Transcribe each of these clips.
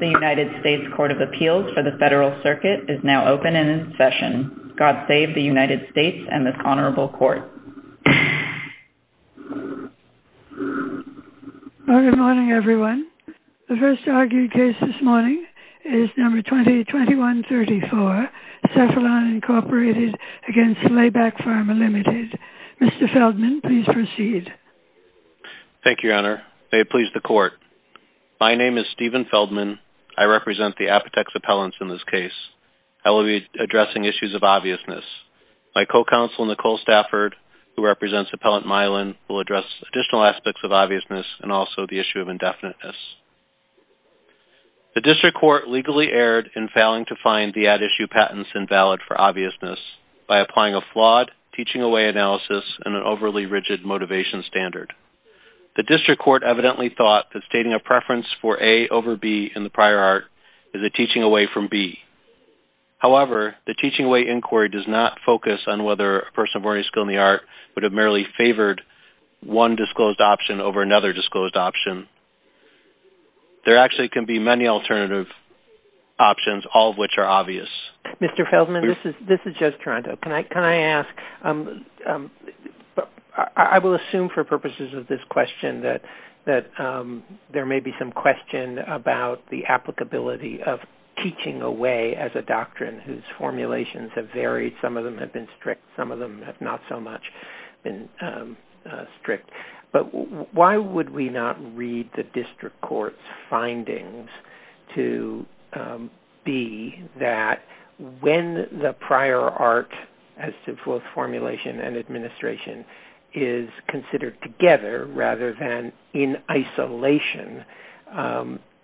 The United States Court of Appeals for the Federal Circuit is now open and in session. God save the United States and this Honorable Court. Good morning everyone. The first argued case this morning is No. 20-21-34, Cephalon, Inc. v. Slayback Pharma Ltd. Mr. Feldman, please proceed. Thank you, Your Honor. May it please the Court. My name is Stephen Feldman. I represent the Apotex Appellants in this case. I will be addressing issues of obviousness. My co-counsel, Nicole Stafford, who represents Appellant Milan, will address additional aspects of obviousness and also the issue of indefiniteness. The District Court legally erred in failing to find the at-issue patents invalid for obviousness by applying a flawed teaching away analysis and an overly rigid motivation standard. The District Court evidently thought that stating a preference for A over B in the prior art is a teaching away from B. However, the teaching away inquiry does not focus on whether a person of ordinary skill in the art would have merely favored one disclosed option over another disclosed option. There actually can be many alternative options, all of which are obvious. Mr. Feldman, this is Joe Toronto. Can I ask, I will assume for purposes of this question that there may be some question about the applicability of teaching away as a doctrine whose formulations have varied. Some of them have been strict. Some of them have not so much been strict. Why would we not read the District Court's findings to B that when the prior art, as to both formulation and administration, is considered together rather than in isolation,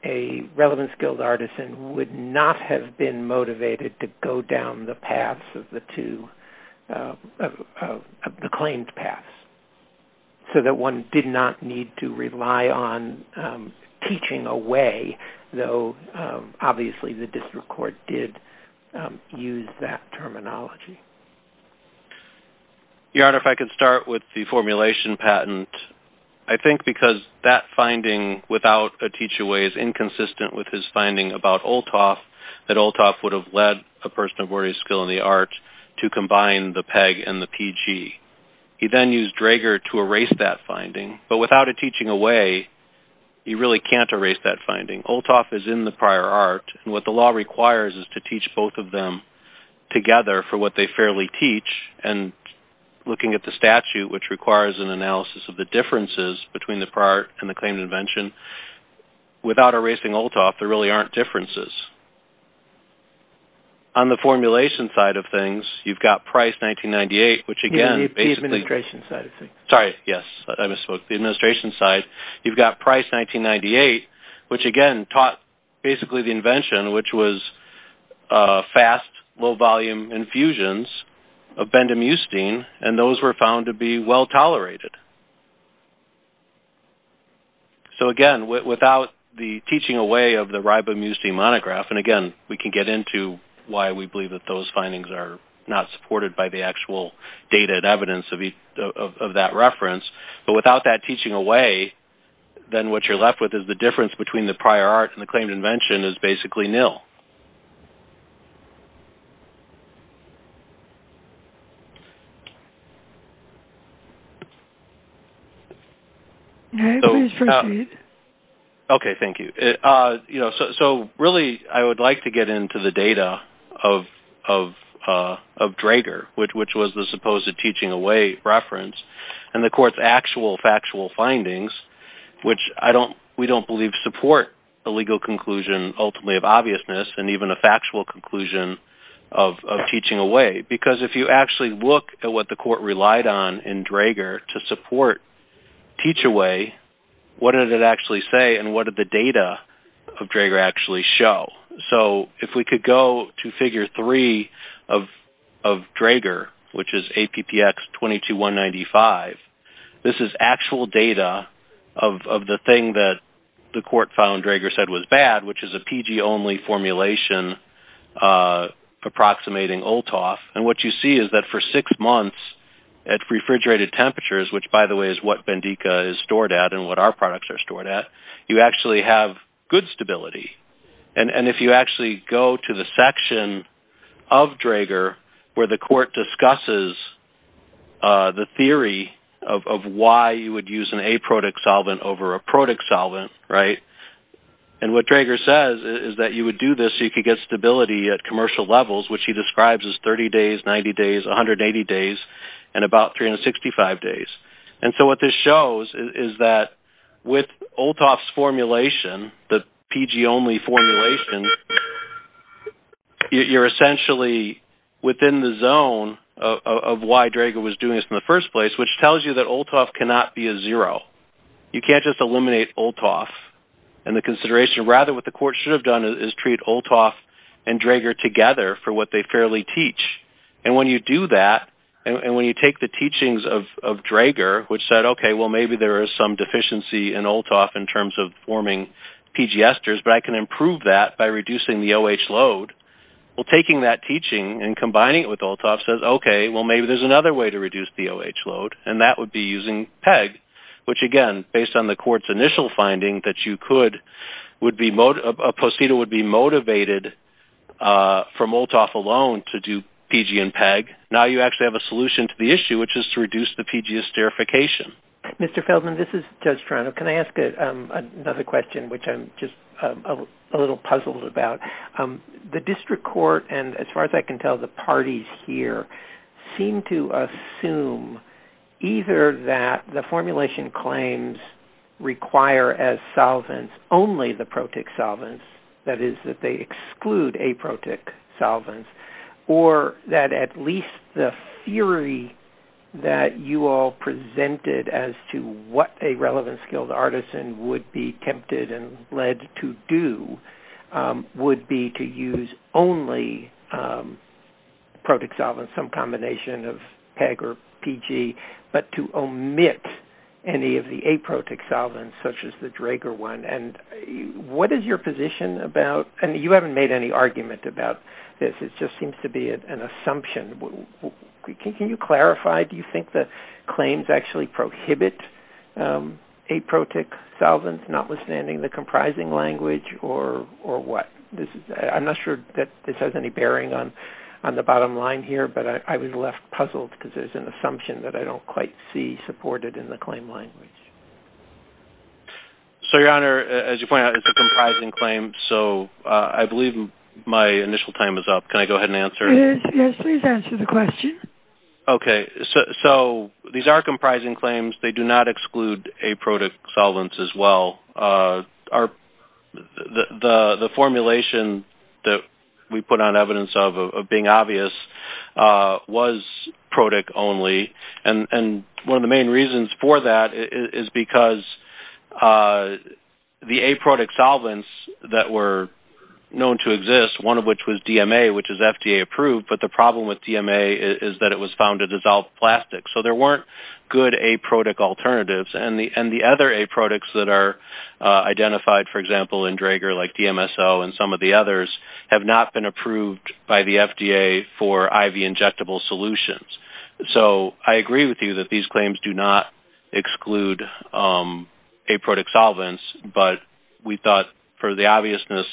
a relevant skilled artisan would not have been motivated to go down the paths of the claims path so that one did not need to rely on teaching away, though, obviously, the District Court did use that terminology. Your Honor, if I could start with the formulation patent. I think because that finding without a teach away is inconsistent with his finding about Olthoff, that Olthoff would have led a person of ordinary skill in the art to combine the PEG and the PG. He then used Drager to erase that finding, but without a teaching away, you really can't erase that finding. Olthoff is in the prior art, and what the law requires is to teach both of them together for what they fairly teach, and looking at the statute, which requires an analysis of the differences between the prior and the claimed invention, without erasing Olthoff, there really aren't differences. On the formulation side of things, you've got Price 1998, which again, basically... The administration side of things. Sorry, yes, I misspoke. The administration side, you've got Price 1998, which again, taught basically the invention, which was fast, low volume infusions of bendamustine, and those were found to be well tolerated. So again, without the teaching away of the Ribamustine monograph, and again, we can get into why we believe that those findings are not supported by the actual dated evidence of that reference, but without that teaching away, then what you're left with is the difference between the prior art and the claimed invention is basically nil. All right, please proceed. Okay, thank you. So really, I would like to get into the data of Draeger, which was the supposed teaching away reference, and the court's actual factual findings, which we don't believe support a legal conclusion, ultimately of obviousness, and even a factual conclusion of teaching away, because if you actually look at what the court relied on in Draeger to support teach away, what did it actually say, and what did the data of Draeger actually show? So if we could go to figure three of Draeger, which is APPX 22195, this is actual data of the thing that the court found Draeger said was bad, which is a PG-only formulation approximating OLTOF, and what you see is that for six months at refrigerated temperatures, which, by the way, is what Bendica is stored at and what our products are stored at, you actually have good stability, and if you actually go to the section of Draeger where the court discusses the theory of why you would use an aprotic solvent over a protic solvent, right, and what Draeger says is that you would do this so you could get stability at commercial levels, which he describes as 30 days, 90 days, 180 days, and about 365 days, and so what this shows is that with OLTOF's formulation, the PG-only formulation, you're essentially within the zone of why Draeger was doing this in the first place, which tells you that OLTOF cannot be a zero. You can't just eliminate OLTOF, and the consideration, rather, what the court should have done is treat OLTOF and Draeger together for what they fairly teach, and when you do that, and when you take the teachings of Draeger, which said, okay, well, maybe there is some deficiency in OLTOF in terms of forming PG esters, but I can improve that by reducing the OH load, well, taking that teaching and combining it with OLTOF says, okay, well, maybe there's another way to reduce the OH load, and that would be using PEG, which, again, based on the court's initial finding that you could, would be, a procedure would be motivated from OLTOF alone to do PG and PEG. Now you actually have a solution to the issue, which is to reduce the PG esterification. Mr. Feldman, this is Judge Toronto. Can I ask another question, which I'm just a little puzzled about? The district court, and as far as I can tell, the parties here seem to assume either that the formulation claims require as solvents only the protic solvents, that is, that they exclude aprotic solvents, or that at least the theory that you all presented as to what a relevant skilled artisan would be tempted and led to do would be to use only protic solvents, some combination of PEG or PG, but to omit any of the aprotic solvents, such as the Drager one, and what is your position about, and you seem to be an assumption. Can you clarify, do you think the claims actually prohibit aprotic solvents, notwithstanding the comprising language, or what? I'm not sure that this has any bearing on the bottom line here, but I was left puzzled because there's an assumption that I don't quite see supported in the claim language. So, Your Honor, as you pointed out, it's a Yes, please answer the question. Okay, so these are comprising claims. They do not exclude aprotic solvents as well. The formulation that we put on evidence of being obvious was protic only, and one of the main reasons for that is because the aprotic solvents that were approved, but the problem with DMA is that it was found to dissolve plastic. So, there weren't good aprotic alternatives, and the other aprotics that are identified, for example, in Drager, like DMSO and some of the others, have not been approved by the FDA for IV injectable solutions. So, I agree with you that these claims do not exclude aprotic solvents, but we thought, for the obviousness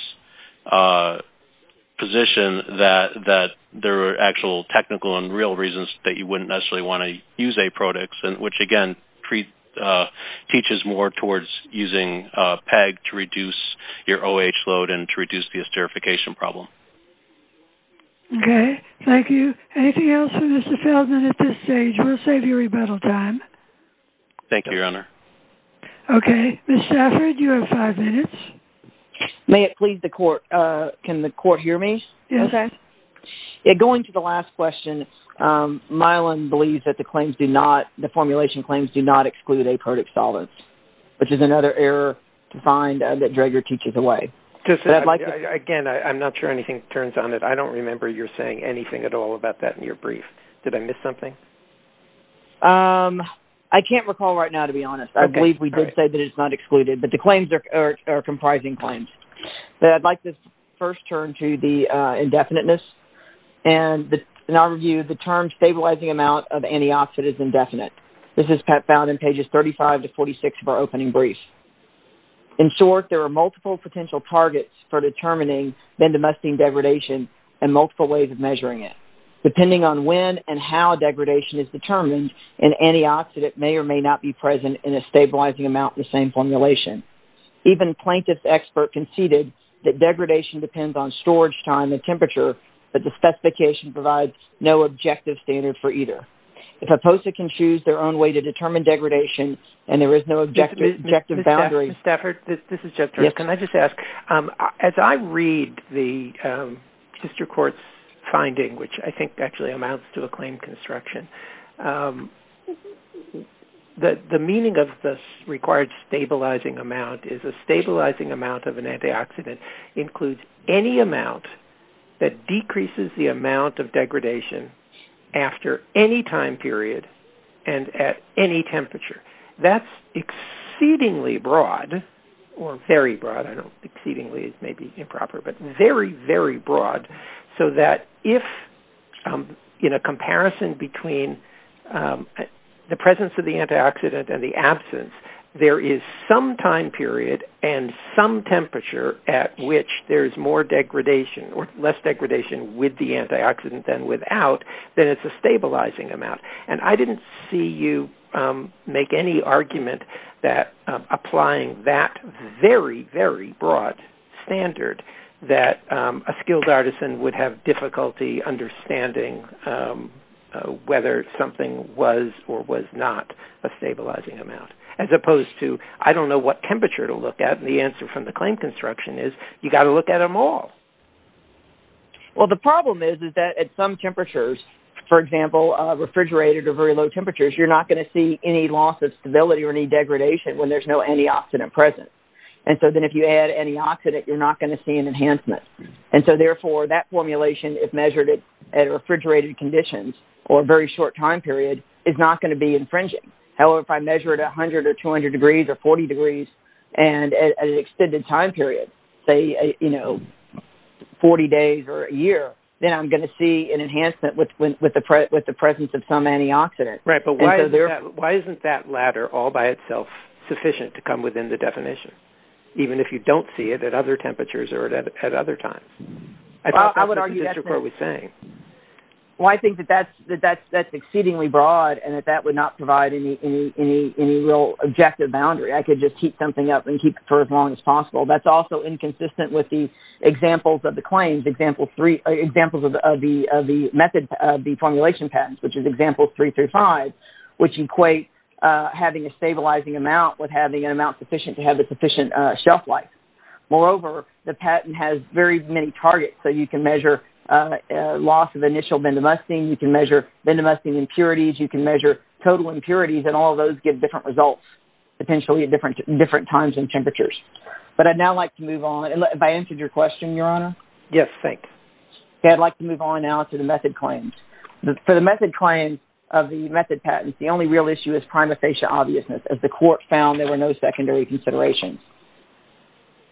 position, that there are actual technical and real reasons that you wouldn't necessarily want to use aprotics, which, again, teaches more towards using PEG to reduce your OH load and to reduce the esterification problem. Okay, thank you. Anything else for Mr. Feldman at this stage? We'll save you rebuttal time. Thank you, Your Honor. Okay, Ms. Stafford, you have five minutes. May it please the court, can the court hear me? Yes, sir. Going to the last question, Milan believes that the formulation claims do not exclude aprotic solvents, which is another error to find that Drager teaches away. Again, I'm not sure anything turns on it. I don't remember you saying anything at all about that in your brief. Did I miss something? No. I can't recall right now, to be honest. I believe we did say that it's not excluded, but the claims are comprising claims. But I'd like to first turn to the indefiniteness. And in our review, the term stabilizing amount of antioxidant is indefinite. This is found in pages 35 to 46 of our opening brief. In short, there are multiple potential targets for determining domestic degradation and multiple ways of measuring it. Depending on when and how degradation is determined, an antioxidant may or may not be present in a stabilizing amount in the same formulation. Even Plaintiff's expert conceded that degradation depends on storage time and temperature, but the specification provides no objective standard for either. If a POSA can choose their own way to determine degradation and there is no objective boundary- Ms. Stafford, this is Jeff Durst. Can I just ask, as I read the district court's finding, which I think actually amounts to a claim construction, the meaning of the required stabilizing amount is a stabilizing amount of an antioxidant includes any amount that decreases the amount of degradation after any time period and at any temperature. That's exceedingly broad or very broad. I know exceedingly is maybe improper, but very, very broad so that if in a comparison between the presence of the antioxidant and the absence, there is some time period and some temperature at which there is more degradation or less degradation with the antioxidant than without, then it's a stabilizing amount. I didn't see you make any argument that applying that very, very broad standard that a skilled artisan would have difficulty understanding whether something was or was not a stabilizing amount as opposed to, I don't know what temperature to look at. The answer from the claim construction is you got to look at them all. The problem is that at some temperatures, for example, refrigerated or very low temperatures, you're not going to see any loss of stability or any degradation when there's no antioxidant present. Then if you add antioxidant, you're not going to see an enhancement. Therefore, that formulation, if measured at refrigerated conditions or a very short time period, is not going to be infringing. However, if I measure it at 100 or 200 degrees or 40 degrees and at an extended time period, say 40 days or a year, then I'm going to see an enhancement with the presence of some antioxidant. Right. But why isn't that ladder all by itself sufficient to come within the definition, even if you don't see it at other temperatures or at other times? I think that's what the district court was saying. Well, I think that that's exceedingly broad and that that would not provide any real objective boundary. I could just keep something up and keep it for as long as possible. That's also inconsistent with the examples of the claims, examples of the formulation patents, which is example 335, which equate having a stabilizing amount with having an amount sufficient to have shelf life. Moreover, the patent has very many targets. So you can measure loss of initial bendamustine. You can measure bendamustine impurities. You can measure total impurities and all of those get different results, potentially at different times and temperatures. But I'd now like to move on. Have I answered your question, Your Honor? Yes. Thanks. I'd like to move on now to the method claims. For the method claims of the method patents, the only real issue is prima facie obviousness, as the court found there were no secondary considerations.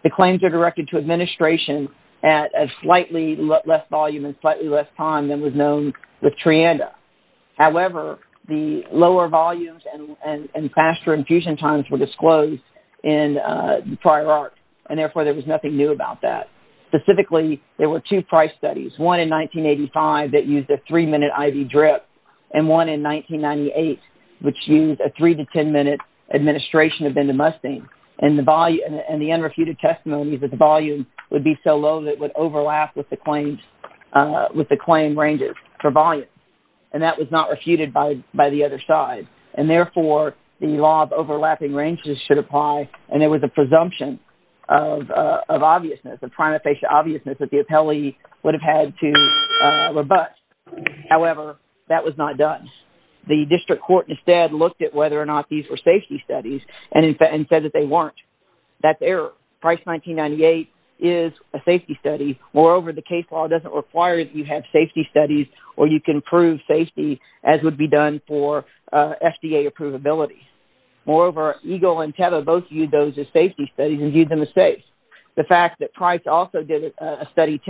The claims are directed to administration at a slightly less volume and slightly less time than was known with Trianda. However, the lower volumes and faster infusion times were disclosed in prior art, and therefore there was nothing new about that. Specifically, there were two price studies, one in 1985 that used a three-minute IV drip and one in 1998, which used a three- to 10-minute administration of bendamustine. And the unrefuted testimony is that the volume would be so low that it would overlap with the claim ranges for volume. And that was not refuted by the other side. And therefore, the law of overlapping ranges should apply, and there was a presumption of obviousness, of prima facie obviousness that the appellee would have had to rebut. However, that was not done. The district court instead looked at whether or not these were safety studies and said that they weren't. That's error. Price 1998 is a safety study. Moreover, the case law doesn't require that you have safety studies or you can prove safety as would be done for FDA approvability. Moreover, Eagle and Teva both those as safety studies and viewed them as safe. The fact that Price also did a study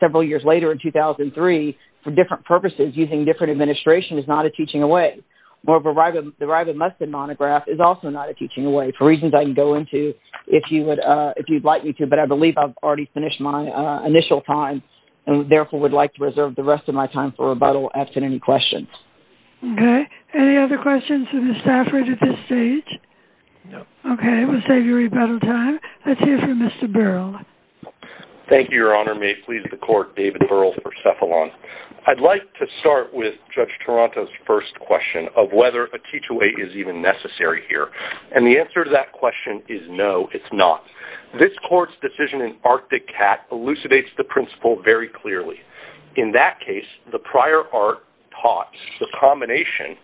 several years later in 2003 for different purposes using different administration is not a teaching away. Moreover, the ribamustine monograph is also not a teaching away for reasons I can go into if you'd like me to, but I believe I've already finished my initial time and therefore would like to reserve the rest of my time for rebuttal after any questions. Okay. Any other questions of the staff right at this stage? No. Okay. Let's take your rebuttal time. Let's hear from Mr. Burrell. Thank you, Your Honor. May it please the court, David Burrell for Cephalon. I'd like to start with Judge Toronto's first question of whether a teach-away is even necessary here, and the answer to that question is no, it's not. This court's decision in Arctic Cat elucidates the principle very clearly. In that case, the prior art taught the combination,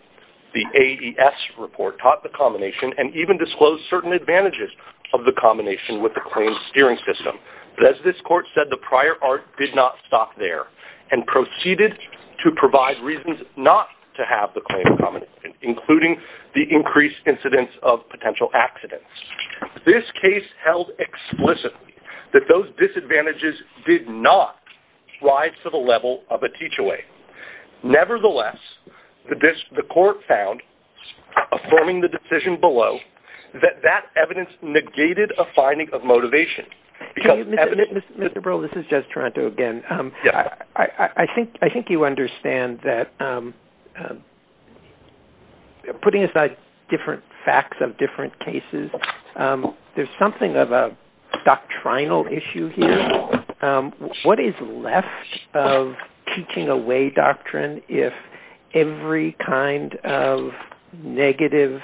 the AES report taught the combination and even disclosed certain advantages of the combination with the claims steering system. But as this court said, the prior art did not stop there and proceeded to provide reasons not to have the claim combination, including the increased incidence of potential accidents. This case held explicitly that those disadvantages did not drive to the level of a teach-away. Nevertheless, the court found, affirming the decision below, that that evidence negated a finding of motivation. Mr. Burrell, this is Judge Toronto again. I think you understand that we're putting aside different facts of different cases. There's something of a doctrinal issue here. What is left of teaching-away doctrine if every kind of negative,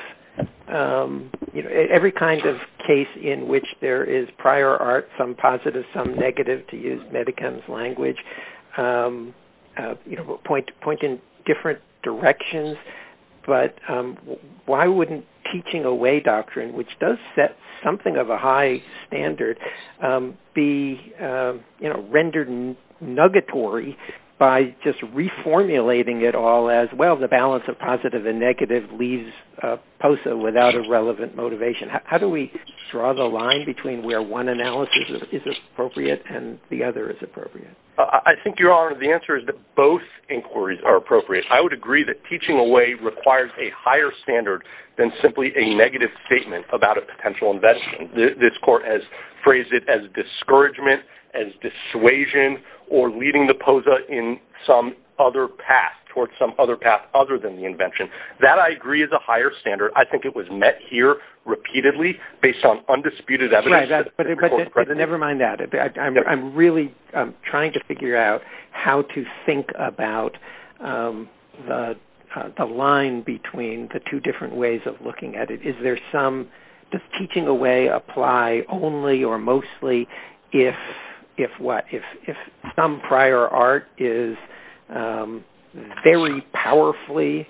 every kind of case in which there is prior art, some positive, some negative, to use Medicam's language, point in different directions? But why wouldn't teaching-away doctrine, which does set something of a high standard, be rendered nuggatory by just reformulating it all as, well, the balance of positive and negative leaves POSA without a relevant motivation? How do we draw the line between where one analysis is appropriate and the other is appropriate? I think, Your Honor, the answer is that both inquiries are appropriate. I would agree that teaching-away requires a higher standard than simply a negative statement about a potential invention. This court has phrased it as discouragement, as dissuasion, or leading the POSA in some other path, towards some other path other than the invention. That, I agree, is a higher standard. I think it was met here repeatedly based on undisputed evidence. Right, but never mind that. I'm really trying to figure out how to think about the line between the two different ways of looking at it. Does teaching-away apply only or mostly if some prior art is very powerfully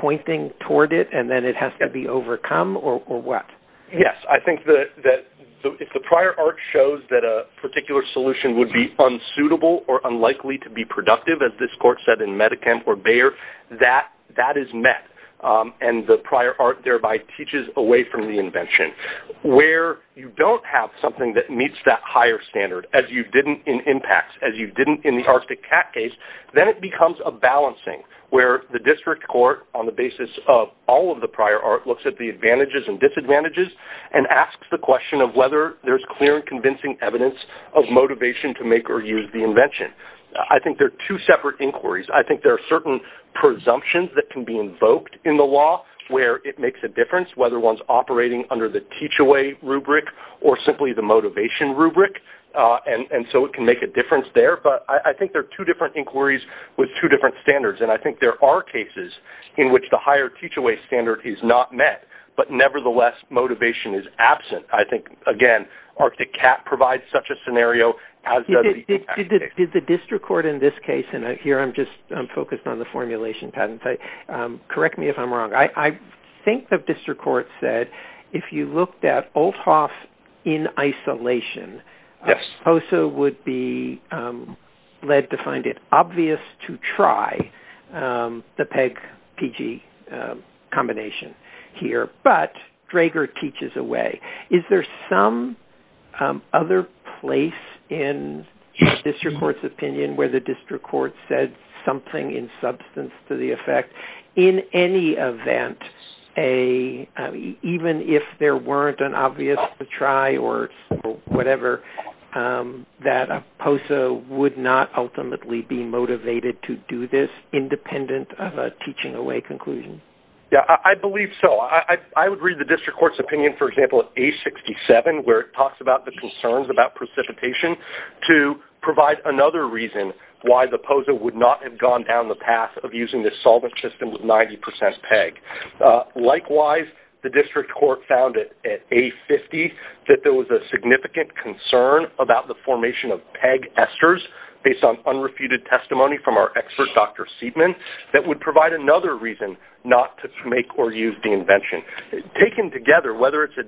pointing toward it, and then it has to be overcome, or what? Yes, I think that if the prior art shows that a particular solution would be unsuitable or unlikely to be productive, as this court said in Medikamp or Bayer, that is met, and the prior art thereby teaches away from the invention. Where you don't have something that meets that higher standard, as you didn't in impacts, as you didn't in the Arctic Cat case, then it becomes a balancing, where the district court, on the basis of all of the prior art, looks at the advantages and disadvantages and asks the question of whether there's clear and convincing evidence of motivation to make or use the invention. I think they're two separate in the law, where it makes a difference whether one's operating under the teach-away rubric or simply the motivation rubric, and so it can make a difference there, but I think there are two different inquiries with two different standards, and I think there are cases in which the higher teach-away standard is not met, but nevertheless, motivation is absent. I think, again, Arctic Cat provides such a scenario. Did the district court in this case, and here I'm just focused on the correct me if I'm wrong, I think the district court said, if you looked at Olthoff in isolation, Hosuh would be led to find it obvious to try the PEG-PG combination here, but Drager teaches away. Is there some other place in the district court's opinion where the district court said something in substance to the effect, in any event, even if there weren't an obvious to try or whatever, that Hosuh would not ultimately be motivated to do this independent of a teaching away conclusion? Yeah, I believe so. I would read the district court's opinion, for example, at A67, where it talks about the concerns about precipitation, to provide another reason why Hosuh would not have gone down the path of using this solvent system with 90% PEG. Likewise, the district court found at A50 that there was a significant concern about the formation of PEG esters, based on unrefuted testimony from our expert, Dr. Seidman, that would provide another reason not to make or use the invention. Taken together, whether it's a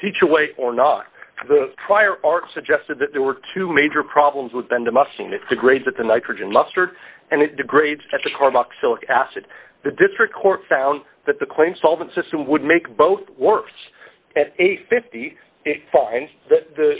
teach-away or not, the prior arc suggested that there were two major problems with bendamustine. It degrades at the nitrogen mustard, and it degrades at the carboxylic acid. The district court found that the claimed solvent system would make both worse. At A50, it finds that the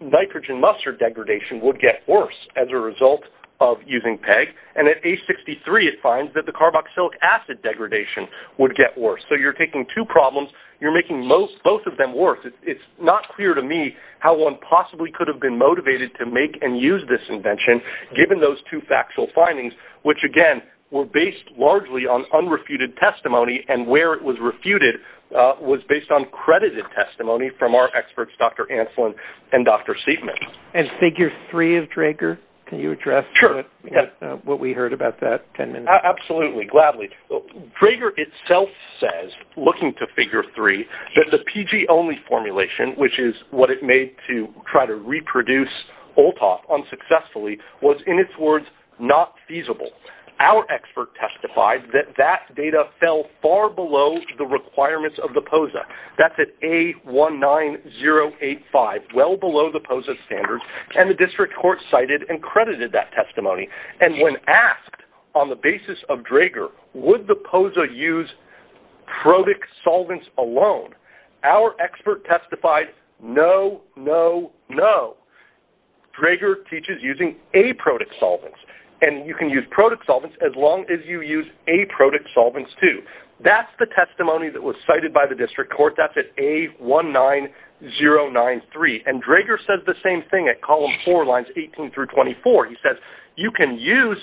nitrogen mustard degradation would get worse as a result of using PEG. And at A63, it finds that the carboxylic acid degradation would get worse. So you're taking two problems. You're making both of them worse. It's not clear to me how one possibly could have been motivated to make and use this invention, given those two factual findings, which, again, were based largely on unrefuted testimony, and where it was refuted was based on credited testimony from our experts, Dr. Ancelin and Dr. Seidman. And figure three of Draeger, can you address what we heard about that? Absolutely, gladly. Draeger itself says, looking to figure three, that the PG-only formulation, which is what it made to try to reproduce Olthoff unsuccessfully, was, in its words, not feasible. Our expert testified that that data fell far below the requirements of the POSA. That's at A19085, well below the POSA standards, and the district court cited and credited that basis of Draeger. Would the POSA use protic solvents alone? Our expert testified, no, no, no. Draeger teaches using aprotic solvents. And you can use protic solvents as long as you use aprotic solvents, too. That's the testimony that was cited by the district court. That's at A19093. And Draeger says the same thing at column four lines 18 through 24. He says, you can use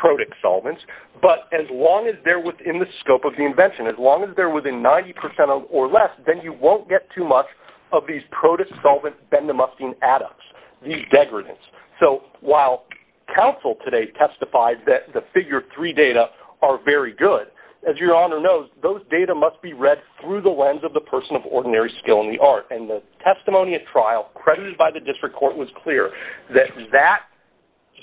protic solvents, but as long as they're within the scope of the invention, as long as they're within 90% or less, then you won't get too much of these protic solvent bendamustine adducts, these degradants. So while counsel today testified that the figure three data are very good, as your honor knows, those data must be read through the lens of the person of ordinary skill in the art. And the testimony at trial credited by the district court was clear that that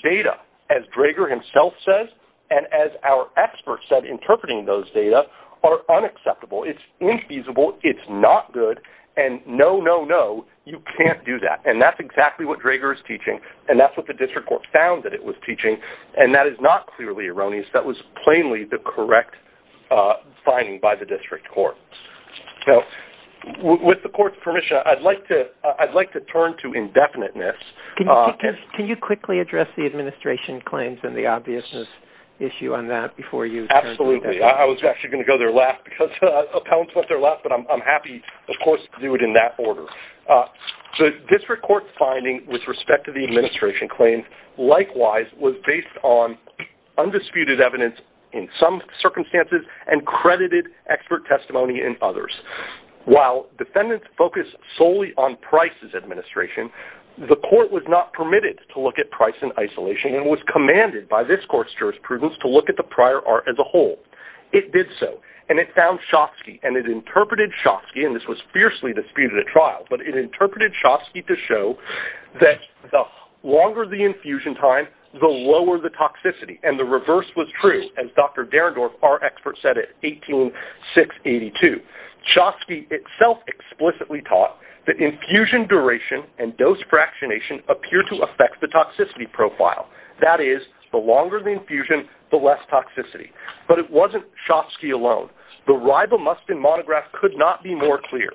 data, as Draeger himself says, and as our expert said, interpreting those data are unacceptable. It's infeasible. It's not good. And no, no, no, you can't do that. And that's exactly what Draeger is teaching. And that's what the district court found that it was teaching. And that is not clearly erroneous. That was plainly the correct finding by the district court. So with the court's permission, I'd like to turn to indefiniteness. Can you quickly address the administration claims and the obviousness issue on that before you? Absolutely. I was actually going to go there last because appellants went there last, but I'm happy, of course, to do it in that order. So district court's finding with respect to the administration claims, likewise, was based on undisputed evidence in some circumstances and credited expert testimony and others. While defendants focus solely on Price's administration, the court was not permitted to look at Price in isolation and was commanded by this court's jurisprudence to look at the prior art as a whole. It did so. And it found Shostky, and it interpreted Shostky, and this was fiercely disputed at trial, but it interpreted Shostky to that the longer the infusion time, the lower the toxicity. And the reverse was true, as Dr. Derendorf, our expert, said at 18-682. Shostky itself explicitly taught that infusion duration and dose fractionation appear to affect the toxicity profile. That is, the longer the infusion, the less toxicity. But it wasn't Shostky alone. The rival Mustin monograph could not be more clear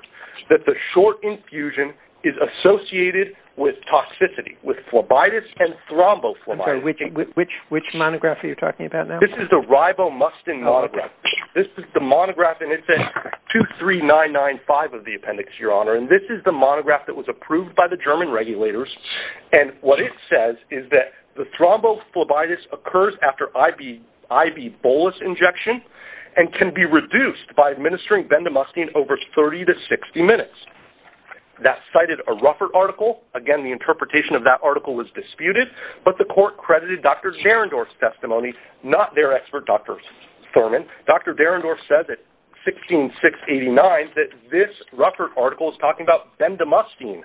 that the short infusion is associated with toxicity, with phlebitis and thrombophlebitis. I'm sorry, which monograph are you talking about now? This is the rival Mustin monograph. This is the monograph, and it's at 23995 of the appendix, Your Honor. And this is the monograph that was approved by the German regulators. And what it says is that the thrombophlebitis occurs after ibuprofen injection and can be administered for three to 60 minutes. That cited a Ruffert article. Again, the interpretation of that article was disputed, but the court credited Dr. Derendorf's testimony, not their expert, Dr. Thurman. Dr. Derendorf said that 16-689, that this Ruffert article is talking about bendamustine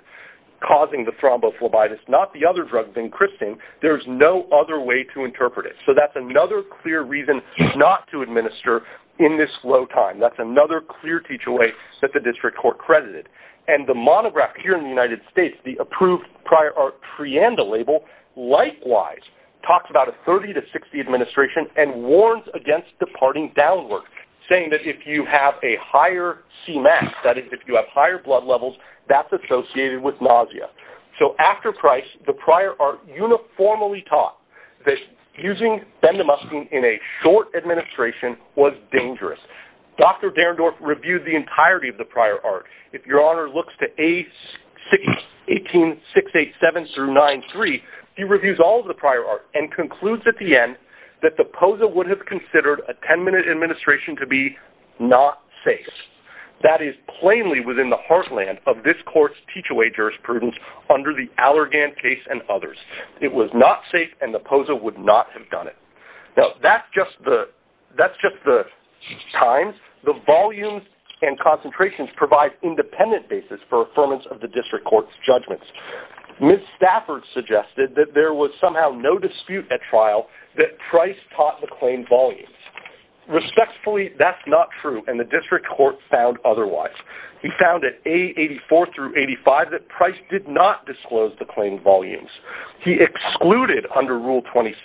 causing the thrombophlebitis, not the other drug, vincristine. There's no other way to interpret it. So that's another clear reason not to administer in this low time. That's another clear teach-away that the district court credited. And the monograph here in the United States, the approved prior art Trianda label, likewise talks about a 30-60 administration and warns against departing downward, saying that if you have a higher CMAS, that is, if you have higher blood levels, that's associated with nausea. So after Price, the prior art uniformly taught that using bendamustine in a short administration was dangerous. Dr. Derendorf reviewed the entirety of the prior art. If your honor looks to 18-687-9-3, he reviews all of the prior art and concludes at the end that the POSA would have considered a 10-minute administration to be not safe. That is plainly within the heartland of this court's teach-away jurisprudence under the Allergan case and others. It was not safe and the POSA would not have done it. That's just the times. The volumes and concentrations provide independent basis for affirmance of the district court's judgments. Ms. Stafford suggested that there was somehow no dispute at trial that Price taught the claim volumes. Respectfully, that's not true and the district court found otherwise. He found at A-84-85 that he excluded under Rule 26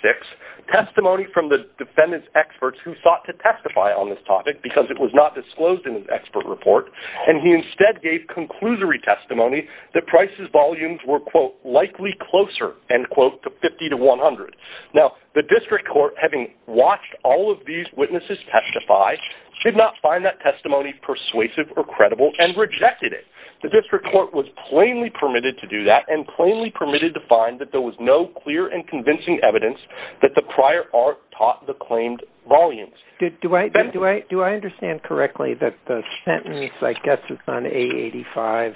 testimony from the defendant's experts who sought to testify on this topic because it was not disclosed in his expert report, and he instead gave conclusory testimony that Price's volumes were, quote, likely closer, end quote, to 50 to 100. Now, the district court, having watched all of these witnesses testify, should not find that testimony persuasive or credible and rejected it. The district court was plainly permitted to do that and plainly permitted to find that there was no clear and convincing evidence that the prior art taught the claimed volumes. Do I understand correctly that the sentence, I guess, is on A-85,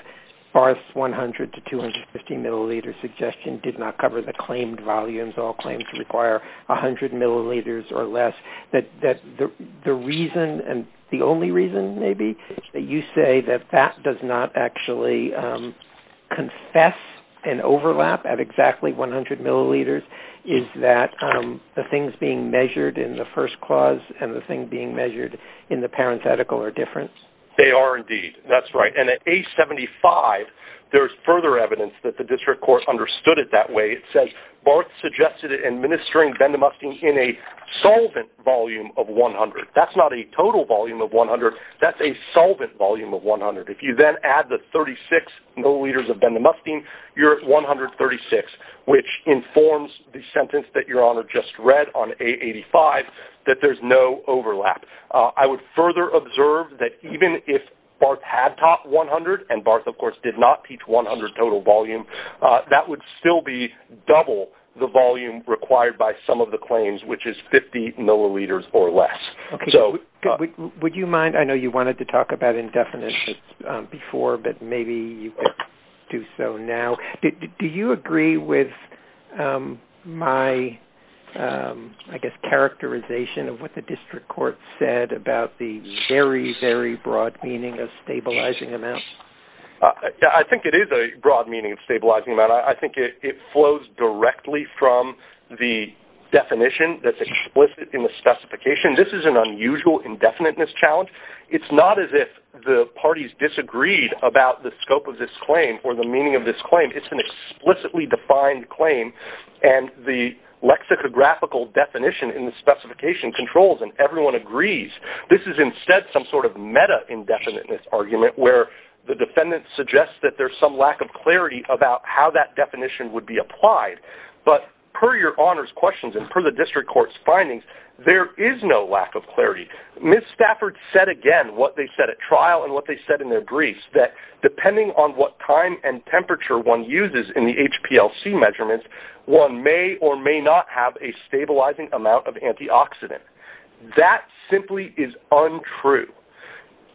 far as 100 to 250 milliliter suggestion did not cover the claimed volumes, all claims require 100 milliliters or less, that the reason and the only reason, maybe, that you say that that does not actually confess an overlap at exactly 100 milliliters is that the things being measured in the first clause and the thing being measured in the parenthetical are different? They are, indeed. That's right. And at A-75, there's further evidence that the district court understood it that way. It says, Barth suggested administering bendamuctin in a solvent volume of 100. That's not a total volume of 100. That's a solvent volume of 100. If you then add the 36 milliliters of bendamuctin, you're at 136, which informs the sentence that your honor just read on A-85, that there's no overlap. I would further observe that even if Barth had taught 100, and Barth, of course, did not teach 100 total volume, that would still be double the volume required by some of the claims, which is 50 milliliters or less. Okay. Would you mind, I know you wanted to talk about indefinite before, but maybe you could do so now. Do you agree with my, I guess, characterization of what the district court said about the very, very broad meaning of stabilizing amounts? I think it is a broad meaning of stabilizing amount. I think it flows directly from the definition that's explicit in the specification. This is an unusual indefiniteness challenge. It's not as if the parties disagreed about the scope of this claim or the meaning of this claim. It's an explicitly defined claim and the lexicographical definition in the specification controls and everyone agrees. This is instead some sort of meta indefiniteness argument where the defendant suggests that there's some lack of clarity about how that definition would be applied, but per your honor's questions and per the district court's findings, there is no lack of clarity. Ms. Stafford said again, what they said at trial and what they said in their briefs, that depending on what time and temperature one uses in the HPLC measurements, one may or may not have a stabilizing amount of antioxidant. That simply is untrue.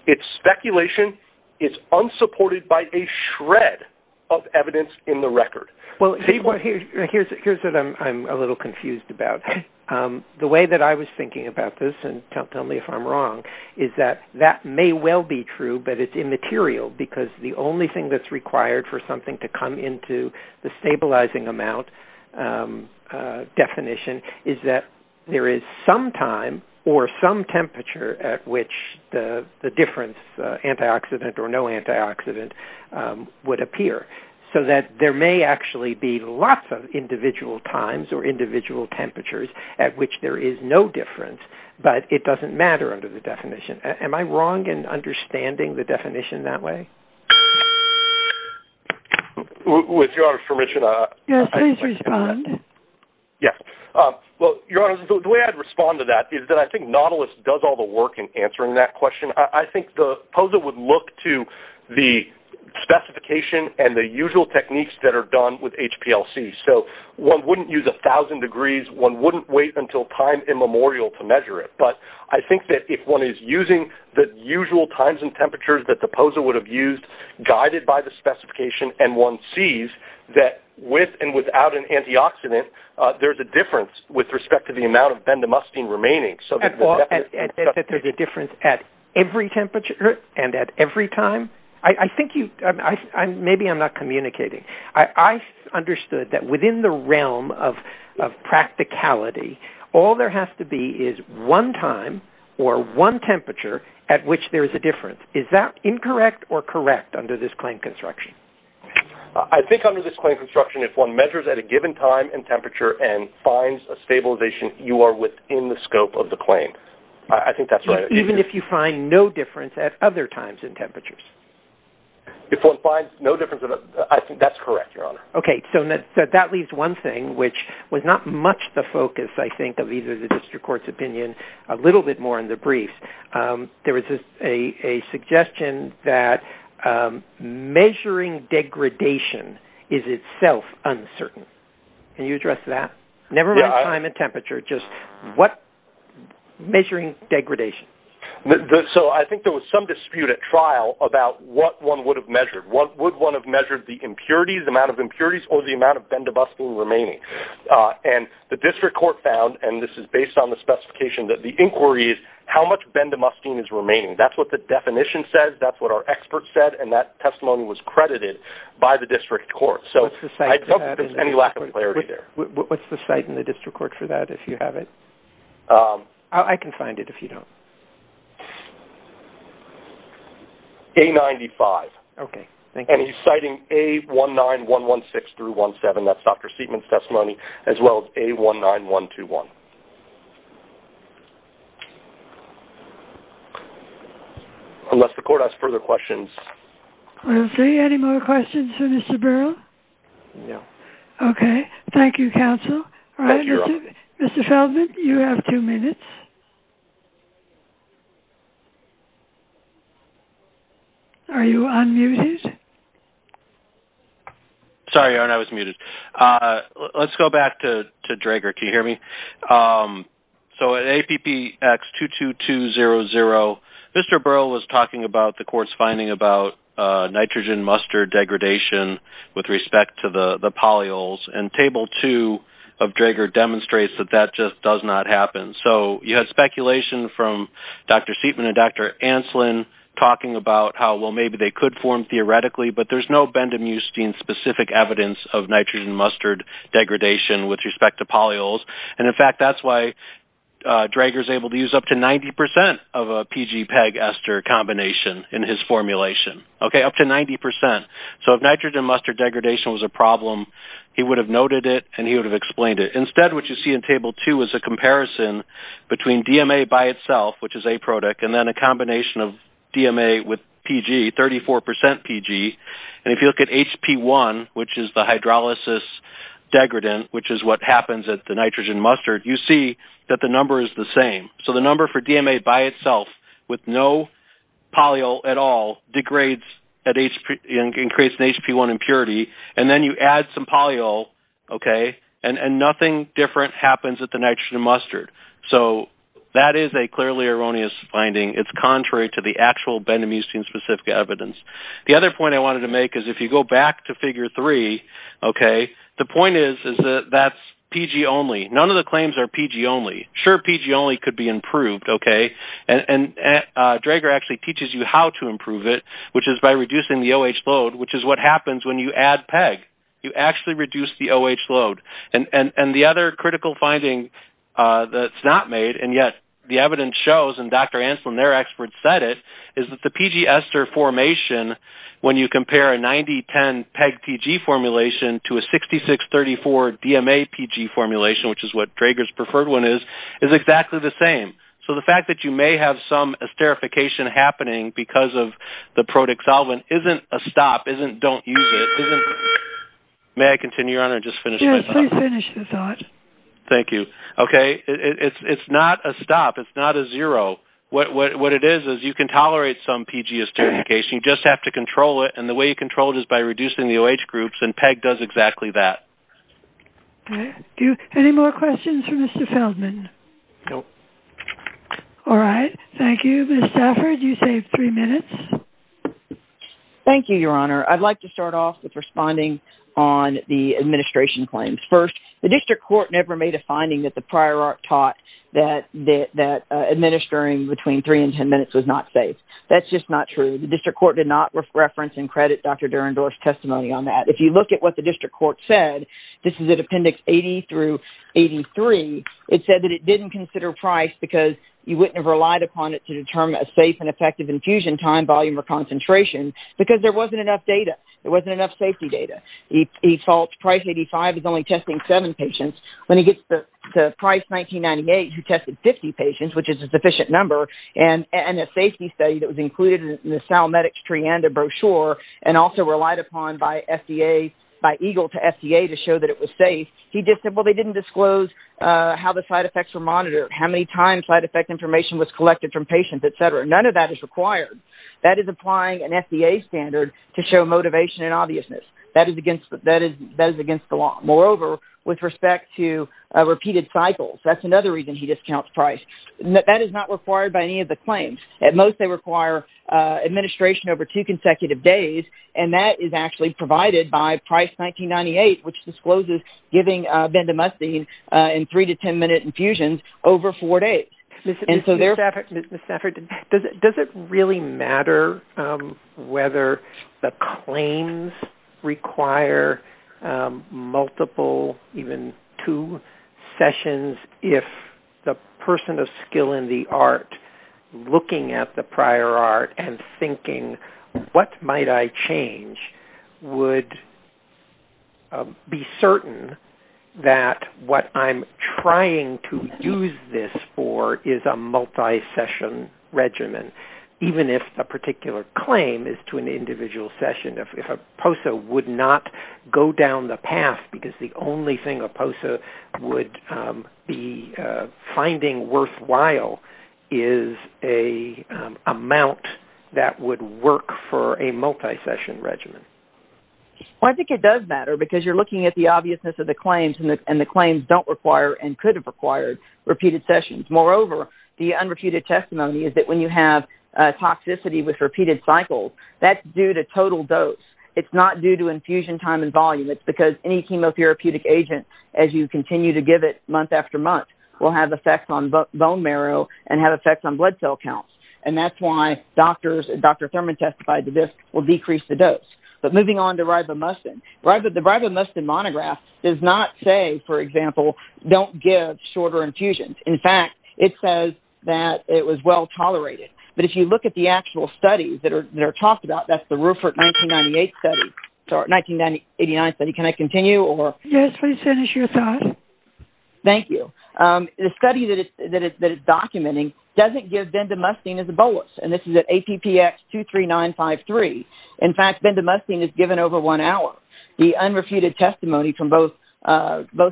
It's speculation. It's unsupported by a shred of evidence in the record. Here's what I'm a little confused about. The way that I was thinking about this, and tell me if I'm wrong, is that that may well be true, but it's immaterial because the only thing that's required for something to come into the stabilizing amount definition is that there is some time or some temperature at which the difference, antioxidant or no antioxidant, would appear. So that there may actually be lots of individual times or individual temperatures at which there is no difference, but it doesn't matter under the definition. Am I wrong in understanding the definition that way? With your permission. Yes. Well, your honor, the way I'd respond to that is that I think Nautilus does all the work in answering that question. I think the POSA would look to the specification and the usual techniques that are done with HPLC. So one wouldn't use 1,000 degrees. One wouldn't wait until time immemorial to measure it. But I think that if one is using the usual times and temperatures that the POSA would have used, guided by the specification, and one sees that with and without an antioxidant, there's a difference with respect to the amount of that there's a difference at every temperature and at every time, I think maybe I'm not communicating. I understood that within the realm of practicality, all there has to be is one time or one temperature at which there is a difference. Is that incorrect or correct under this claim construction? I think under this claim construction, if one measures at a given time and temperature and finds a stabilization, you are within the scope of the claim. I think that's right. Even if you find no difference at other times and temperatures? If one finds no difference, I think that's correct, your honor. Okay. So that leaves one thing, which was not much the focus, I think, of either the district court's opinion. A little bit more in the brief. There was a suggestion that measuring degradation is itself uncertain. Can you address that? Never mind time and temperature, just what measuring degradation? So I think there was some dispute at trial about what one would have measured. Would one have measured the impurities, the amount of impurities, or the amount of bendobustine remaining? And the district court found, and this is based on the specification that the inquiry is how much bendobustine is remaining. That's what the definition says. That's what our expert said. And that testimony was credited by the district court. So I don't think there's any lack of clarity What's the site in the district court for that, if you have it? I can find it if you don't. A95. And he's citing A19116 through 17. That's Dr. Seidman's testimony, as well as A19121. Unless the court has further questions. We have three. Any more questions for Mr. Burrell? No. Okay. Thank you, counsel. Mr. Feldman, you have two minutes. Are you unmuted? Sorry, Aaron. I was muted. Let's go back to Drager. Can you hear me? Okay. So at APPX22200, Mr. Burrell was talking about the court's finding about nitrogen mustard degradation with respect to the polyols. And Table 2 of Drager demonstrates that that just does not happen. So you had speculation from Dr. Seidman and Dr. Ancelin talking about how, well, maybe they could form theoretically, but there's no bendobustine-specific evidence of it. And in fact, that's why Drager's able to use up to 90% of a PG-PEG-ester combination in his formulation. Okay? Up to 90%. So if nitrogen mustard degradation was a problem, he would have noted it and he would have explained it. Instead, what you see in Table 2 is a comparison between DMA by itself, which is a product, and then a combination of DMA with PG, 34% PG. And if you look at HP1, which is the hydrolysis degradant, which is what happens at nitrogen mustard, you see that the number is the same. So the number for DMA by itself, with no polyol at all, degrades and creates an HP1 impurity, and then you add some polyol, and nothing different happens at the nitrogen mustard. So that is a clearly erroneous finding. It's contrary to the actual bendobustine-specific evidence. The other point I wanted to make is if you go back to Figure 3, okay, the point is that that's PG-only. None of the claims are PG-only. Sure, PG-only could be improved, okay? And Drager actually teaches you how to improve it, which is by reducing the OH load, which is what happens when you add PEG. You actually reduce the OH load. And the other critical finding that's not made, and yet the evidence shows, and Dr. Drager's preferred one is, is exactly the same. So the fact that you may have some esterification happening because of the protic solvent isn't a stop, isn't don't use it. May I continue on or just finish my thought? Yes, please finish your thought. Thank you. Okay, it's not a stop. It's not a zero. What it is is you can tolerate some control just by reducing the OH groups, and PEG does exactly that. Any more questions for Mr. Feldman? Nope. All right. Thank you. Ms. Stafford, you saved three minutes. Thank you, Your Honor. I'd like to start off with responding on the administration claims. First, the district court never made a finding that the prior art taught that administering between three and ten minutes was not safe. That's just not true. The district court did not reference in Dr. Durandorff's testimony on that. If you look at what the district court said, this is at Appendix 80 through 83, it said that it didn't consider Price because you wouldn't have relied upon it to determine a safe and effective infusion time, volume, or concentration because there wasn't enough data. There wasn't enough safety data. He false Price 85 is only testing seven patients. When he gets to Price 1998, he tested 50 patients, which is a sufficient number, and a safety study that was included in the Sal Medics Trianda brochure and also relied upon by EGLE to FDA to show that it was safe. He just said, well, they didn't disclose how the side effects were monitored, how many times side effect information was collected from patients, et cetera. None of that is required. That is applying an FDA standard to show motivation and obviousness. That is against the law. Moreover, with respect to repeated cycles, that's another reason he discounts Price. That is not required by any of the claims. At most, they require administration over two consecutive days. That is actually provided by Price 1998, which discloses giving bendamustine in three to 10-minute infusions over four days. Does it really matter whether the claims require multiple, even two, sessions if the person of skill in the art looking at the prior art and thinking, what might I change, would I be certain that what I'm trying to use this for is a multi-session regimen, even if a particular claim is to an individual session, if a POSA would not go down the path because the only thing a POSA would be finding worthwhile is an amount that would work for a multi-session regimen? I think it does matter because you're looking at the obviousness of the claims and the claims don't require and could have required repeated sessions. Moreover, the unrefuted testimony is that when you have toxicity with repeated cycles, that's due to total dose. It's not due to infusion time and volume. It's because any chemotherapeutic agent, as you continue to give it month after month, will have effects on bone marrow and have effects on blood cell counts. That's why Dr. Thurman testified that this will decrease the dose. But moving on to ribomustine, the ribomustine monograph does not say, for example, don't give shorter infusions. In fact, it says that it was well tolerated. But if you look at the actual studies that are talked about, that's the Rufert 1989 study. Can I continue? Yes, please finish your thought. Thank you. The study that it's documenting doesn't give bendamustine as a bolus, and this is at APPX 23953. In fact, bendamustine is given over one hour. The unrefuted testimony from both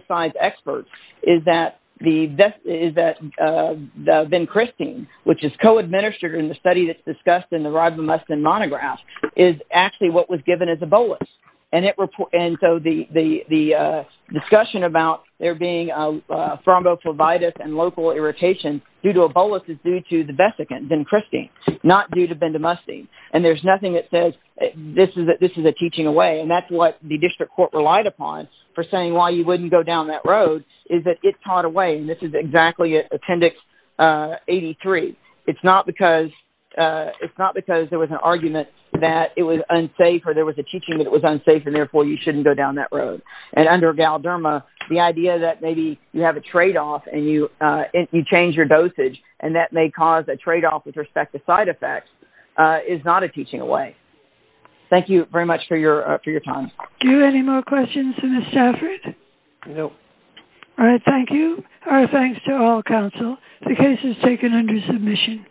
sides' experts is that bencrystine, which is co-administered in the study that's discussed in the ribomustine monograph, is actually what was given as a bolus. And so the discussion about there being thrombophlebitis and local irritation due to a bolus is due to the vesicant, bencrystine, not due to bendamustine. And there's nothing that says this is a teaching away. And that's what the district court relied upon for saying why you wouldn't go down that road is that it taught away. And this is exactly at Appendix 83. It's not because there was an argument that it was unsafe or there was a teaching that was unsafe, and therefore, you shouldn't go down that road. And under Galderma, the idea that maybe you have a tradeoff and you change your dosage and that may cause a tradeoff with respect to side effects is not a teaching away. Thank you very much for your time. Do you have any more questions for Ms. Stafford? No. All right. Thank you. Our thanks to all counsel. The case is taken under submission.